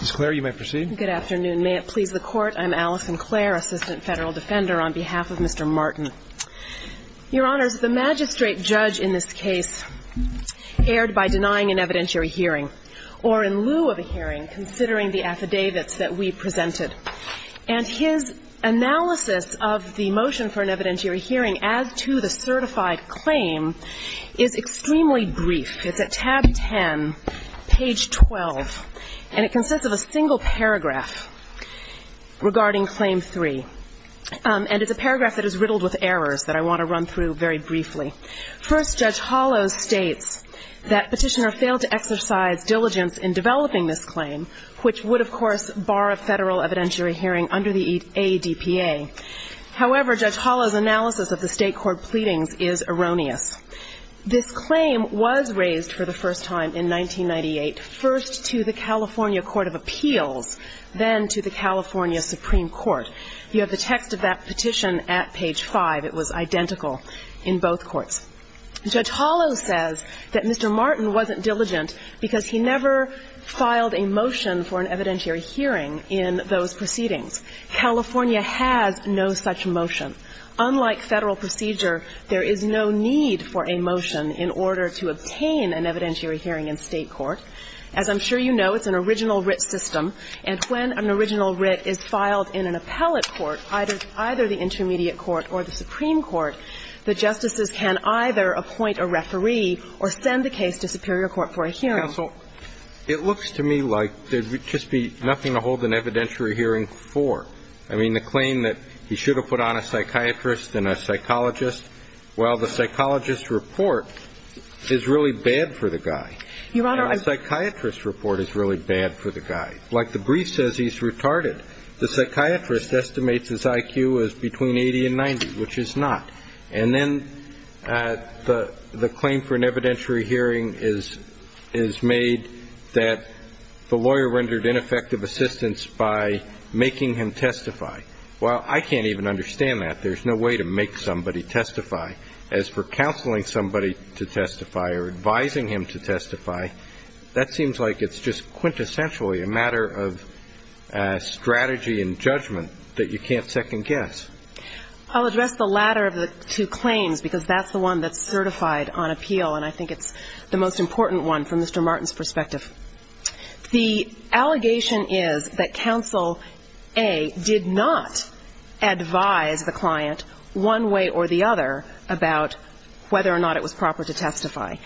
Ms. Clare, you may proceed. Good afternoon. May it please the Court, I'm Alison Clare, Assistant Federal Defender on behalf of Mr. Martin. Your Honors, the magistrate judge in this case erred by denying an evidentiary hearing, or in lieu of a hearing, considering the affidavits that we presented. And his analysis of the motion for an evidentiary hearing as to the certified claim is extremely brief. It's at tab 10, page 12, and it consists of a single paragraph regarding Claim 3. And it's a paragraph that is riddled with errors that I want to run through very briefly. First, Judge Hollow states that Petitioner failed to exercise diligence in developing this claim, which would, of course, bar a federal evidentiary hearing under the ADPA. However, Judge Hollow's analysis of the state court pleadings is erroneous. This claim was raised for the first time in 1998, first to the California Court of Appeals, then to the California Supreme Court. You have the text of that petition at page 5. It was identical in both courts. Judge Hollow says that Mr. Martin wasn't diligent because he never filed a motion for an evidentiary hearing in those proceedings. California has no such motion. Unlike Federal procedure, there is no need for a motion in order to obtain an evidentiary hearing in state court. As I'm sure you know, it's an original writ system. And when an original writ is filed in an appellate court, either the intermediate court or the Supreme Court, the justices can either appoint a referee or send the case to superior court for a hearing. It looks to me like there would just be nothing to hold an evidentiary hearing for. I mean, the claim that he should have put on a psychiatrist and a psychologist, well, the psychologist's report is really bad for the guy. And the psychiatrist's report is really bad for the guy. Like the brief says, he's retarded. The psychiatrist estimates his IQ is between 80 and 90, which is not. And then the claim for an evidentiary hearing is made that the lawyer rendered ineffective assistance by making him testify. Well, I can't even understand that. There's no way to make somebody testify. As for counseling somebody to testify or advising him to testify, that seems like it's just quintessentially a matter of strategy and judgment that you can't second guess. I'll address the latter of the two claims because that's the one that's certified on appeal, and I think it's the most important one from Mr. Martin's perspective. The allegation is that counsel A did not advise the client one way or the other about whether or not it was proper to testify.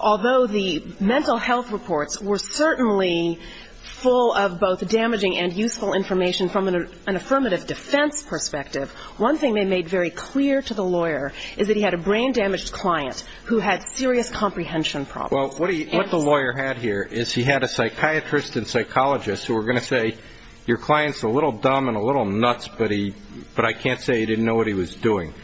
Although the mental health reports were certainly full of both damaging and useful information from an affirmative defense perspective, one thing they made very clear to the lawyer is that he had a brain-damaged client who had serious comprehension problems. Well, what the lawyer had here is he had a psychiatrist and psychologist who were going to say, your client's a little dumb and a little nuts, but I can't say he didn't know what he was doing.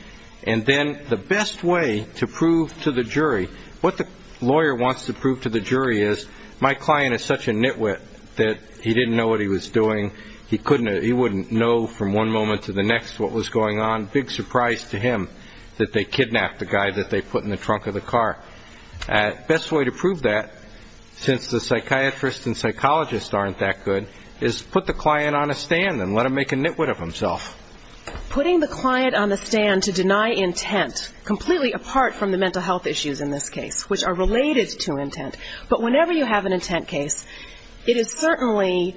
And then the best way to prove to the jury, what the lawyer wants to prove to the jury is, my client is such a nitwit that he didn't know what he was doing. He wouldn't know from one moment to the next what was going on. Big surprise to him that they kidnapped the guy that they put in the trunk of the car. Best way to prove that, since the psychiatrist and psychologist aren't that good, is put the client on a stand and let him make a nitwit of himself. Putting the client on the stand to deny intent, completely apart from the mental health issues in this case, which are related to intent. But whenever you have an intent case, it is certainly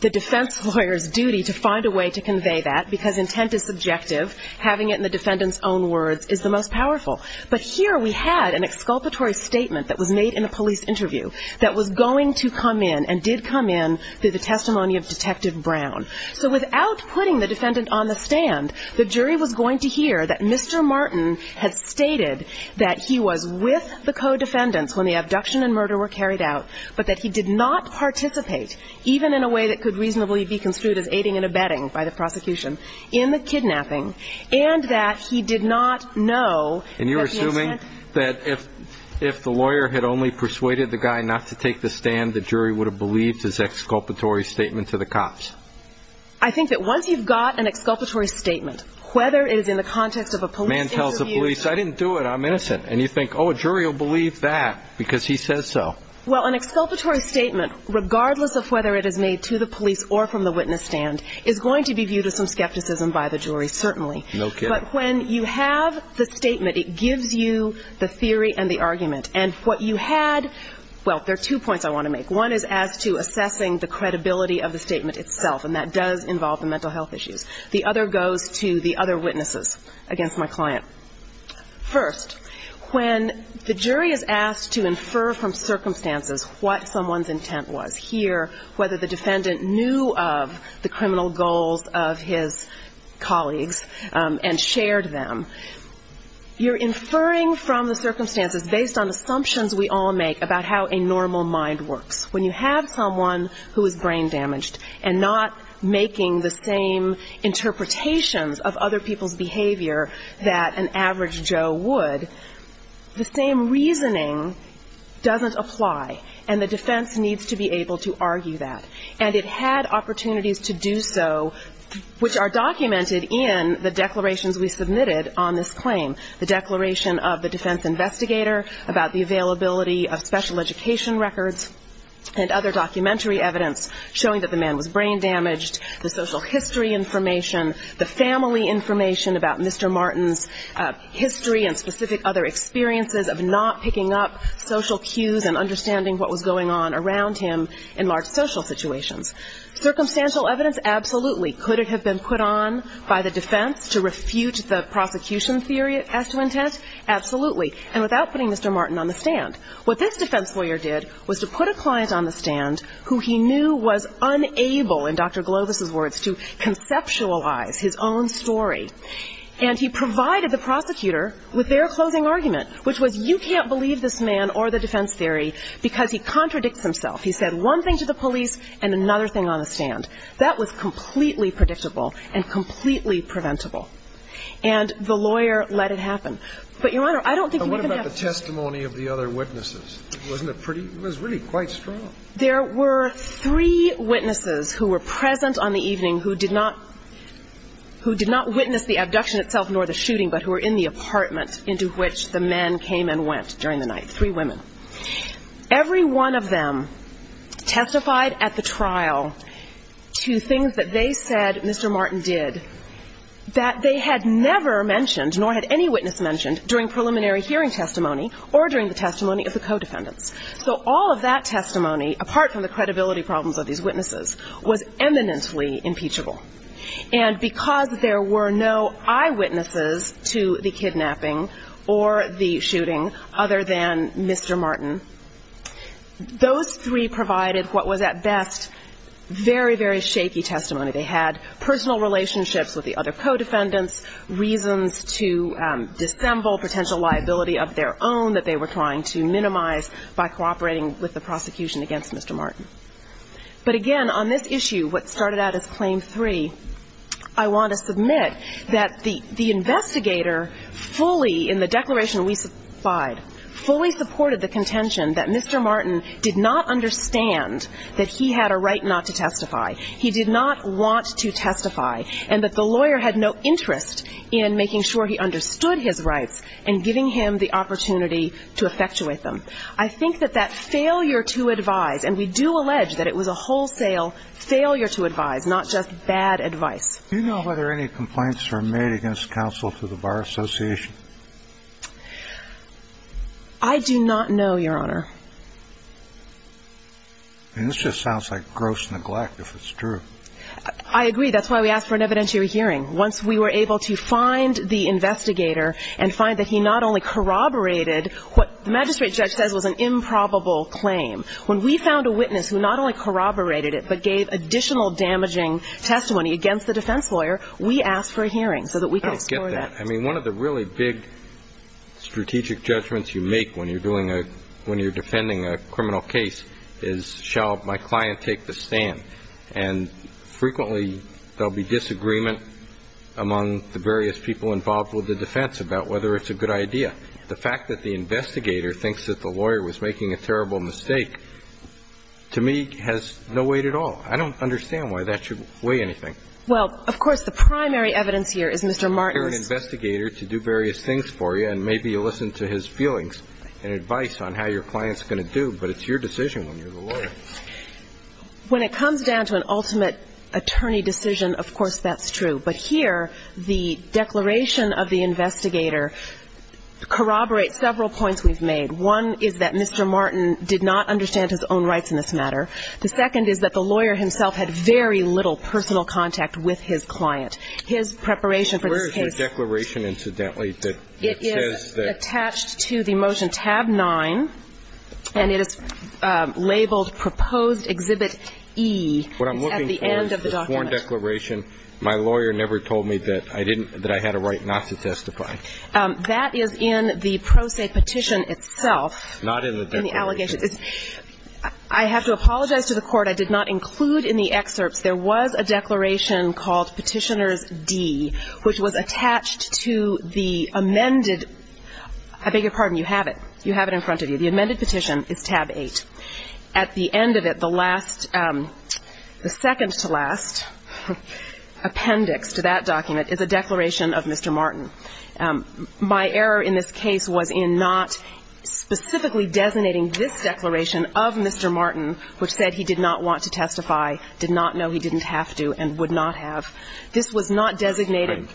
the defense lawyer's duty to find a way to convey that, because intent is subjective. Having it in the defendant's own words is the most powerful. But here we had an exculpatory statement that was made in a police interview that was going to come in and did come in through the testimony of Detective Brown. So without putting the defendant on the stand, the jury was going to hear that Mr. Martin had stated that he was with the co-defendants when the abduction and murder were carried out, but that he did not participate, even in a way that could reasonably be construed as aiding and abetting by the prosecution, in the kidnapping, and that he did not know that the incident... And you're assuming that if the lawyer had only persuaded the guy not to take the stand, the jury would have believed his exculpatory statement to the cops? I think that once you've got an exculpatory statement, whether it is in the context of a police interview... The man tells the police, I didn't do it, I'm innocent. And you think, oh, a jury will believe that because he says so. Well, an exculpatory statement, regardless of whether it is made to the police or from the witness stand, is going to be viewed with some skepticism by the jury, certainly. No kidding. But when you have the statement, it gives you the theory and the argument. And what you had... Well, there are two points I want to make. One is as to assessing the credibility of the statement itself, and that does involve the mental health issues. The other goes to the other witnesses against my client. First, when the jury is asked to infer from circumstances what someone's intent was, whether the defendant knew of the criminal goals of his colleagues and shared them, you're inferring from the circumstances based on assumptions we all make about how a normal mind works. When you have someone who is brain damaged and not making the same interpretations of other people's behavior that an average Joe would, the same reasoning doesn't apply, and the defense needs to be able to argue that. And it had opportunities to do so, which are documented in the declarations we submitted on this claim, the declaration of the defense investigator about the availability of special education records and other documentary evidence showing that the man was brain damaged, the social history information, the family information about Mr. Martin's history and specific other experiences of not picking up social cues and understanding what was going on around him in large social situations. Circumstantial evidence? Absolutely. Could it have been put on by the defense to refute the prosecution theory as to intent? Absolutely, and without putting Mr. Martin on the stand. What this defense lawyer did was to put a client on the stand who he knew was unable, in Dr. Glovis's words, to conceptualize his own story. And he provided the prosecutor with their closing argument, which was you can't believe this man or the defense theory because he contradicts himself. He said one thing to the police and another thing on the stand. That was completely predictable and completely preventable. And the lawyer let it happen. But, Your Honor, I don't think you even have to... And what about the testimony of the other witnesses? Wasn't it pretty? It was really quite strong. There were three witnesses who were present on the evening who did not witness the abduction itself nor the shooting, but who were in the apartment into which the men came and went during the night, three women. Every one of them testified at the trial to things that they said Mr. Martin did that they had never mentioned nor had any witness mentioned during preliminary hearing testimony or during the testimony of the co-defendants. So all of that testimony, apart from the credibility problems of these witnesses, was eminently impeachable. And because there were no eyewitnesses to the kidnapping or the shooting other than Mr. Martin, those three provided what was at best very, very shaky testimony. They had personal relationships with the other co-defendants, reasons to dissemble potential liability of their own that they were trying to minimize by cooperating with the prosecution against Mr. Martin. But again, on this issue, what started out as Claim 3, I want to submit that the investigator fully, in the declaration we supplied, fully supported the contention that Mr. Martin did not understand that he had a right not to testify. He did not want to testify, and that the lawyer had no interest in making sure he understood his rights and giving him the opportunity to effectuate them. I think that that failure to advise, and we do allege that it was a wholesale failure to advise, not just bad advice. Do you know whether any complaints were made against counsel to the Bar Association? I do not know, Your Honor. And this just sounds like gross neglect if it's true. I agree. That's why we asked for an evidentiary hearing. Once we were able to find the investigator and find that he not only corroborated what the magistrate judge says was an improbable claim, when we found a witness who not only corroborated it but gave additional damaging testimony against the defense lawyer, we asked for a hearing so that we could explore that. I don't get that. I mean, one of the really big strategic judgments you make when you're doing a – when you're defending a criminal case is, shall my client take the stand? And frequently there will be disagreement among the various people involved with the defense about whether it's a good idea. The fact that the investigator thinks that the lawyer was making a terrible mistake to me has no weight at all. I don't understand why that should weigh anything. Well, of course, the primary evidence here is Mr. Martin's – You hire an investigator to do various things for you, and maybe you listen to his feelings and advice on how your client's going to do, but it's your decision when you're the lawyer. When it comes down to an ultimate attorney decision, of course that's true. But here, the declaration of the investigator corroborates several points we've made. One is that Mr. Martin did not understand his own rights in this matter. The second is that the lawyer himself had very little personal contact with his client. His preparation for this case – Where is the declaration, incidentally, that says that – It is attached to the motion tab 9, and it is labeled proposed exhibit E. It's at the end of the document. My lawyer never told me that I had a right not to testify. That is in the pro se petition itself. Not in the declaration. I have to apologize to the Court. I did not include in the excerpts. There was a declaration called Petitioner's D, which was attached to the amended – I beg your pardon. You have it. You have it in front of you. The amended petition is tab 8. At the end of it, the last – the second to last appendix to that document is a declaration of Mr. Martin. My error in this case was in not specifically designating this declaration of Mr. Martin, which said he did not want to testify, did not know he didn't have to, and would not have. This was not designated.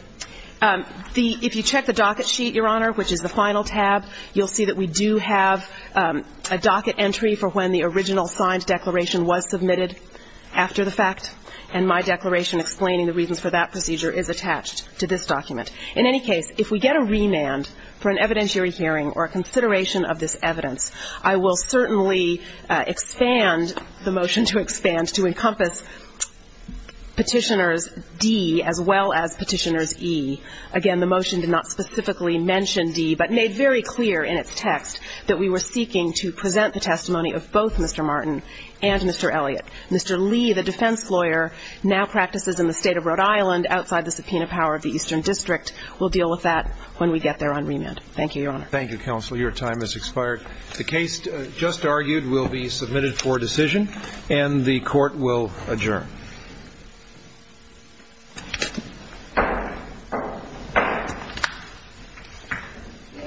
If you check the docket sheet, Your Honor, which is the final tab, you'll see that we do have a docket entry for when the original signed declaration was submitted after the fact, and my declaration explaining the reasons for that procedure is attached to this document. In any case, if we get a remand for an evidentiary hearing or a consideration of this evidence, I will certainly expand the motion to expand to encompass Petitioner's D as well as Petitioner's E. Again, the motion did not specifically mention D, but made very clear in its text that we were seeking to present the testimony of both Mr. Martin and Mr. Elliott. Mr. Lee, the defense lawyer, now practices in the State of Rhode Island outside the subpoena power of the Eastern District. We'll deal with that when we get there on remand. Thank you, Your Honor. Thank you, Counsel. Your time has expired. The case just argued will be submitted for decision, and the Court will adjourn. Hear, ye,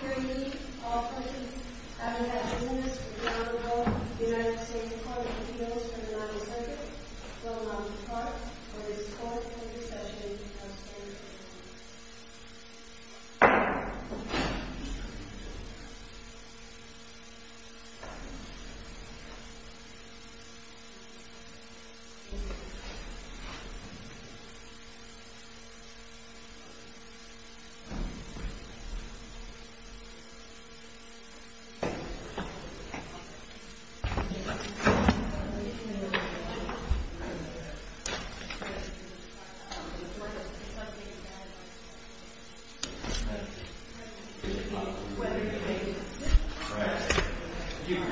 hear ye, all parties. Having had ten minutes, the Honorable United States Court of Appeals for the Ninth Circuit will now depart for its fourth intercession. Thank you, Your Honor. Thank you, Your Honor.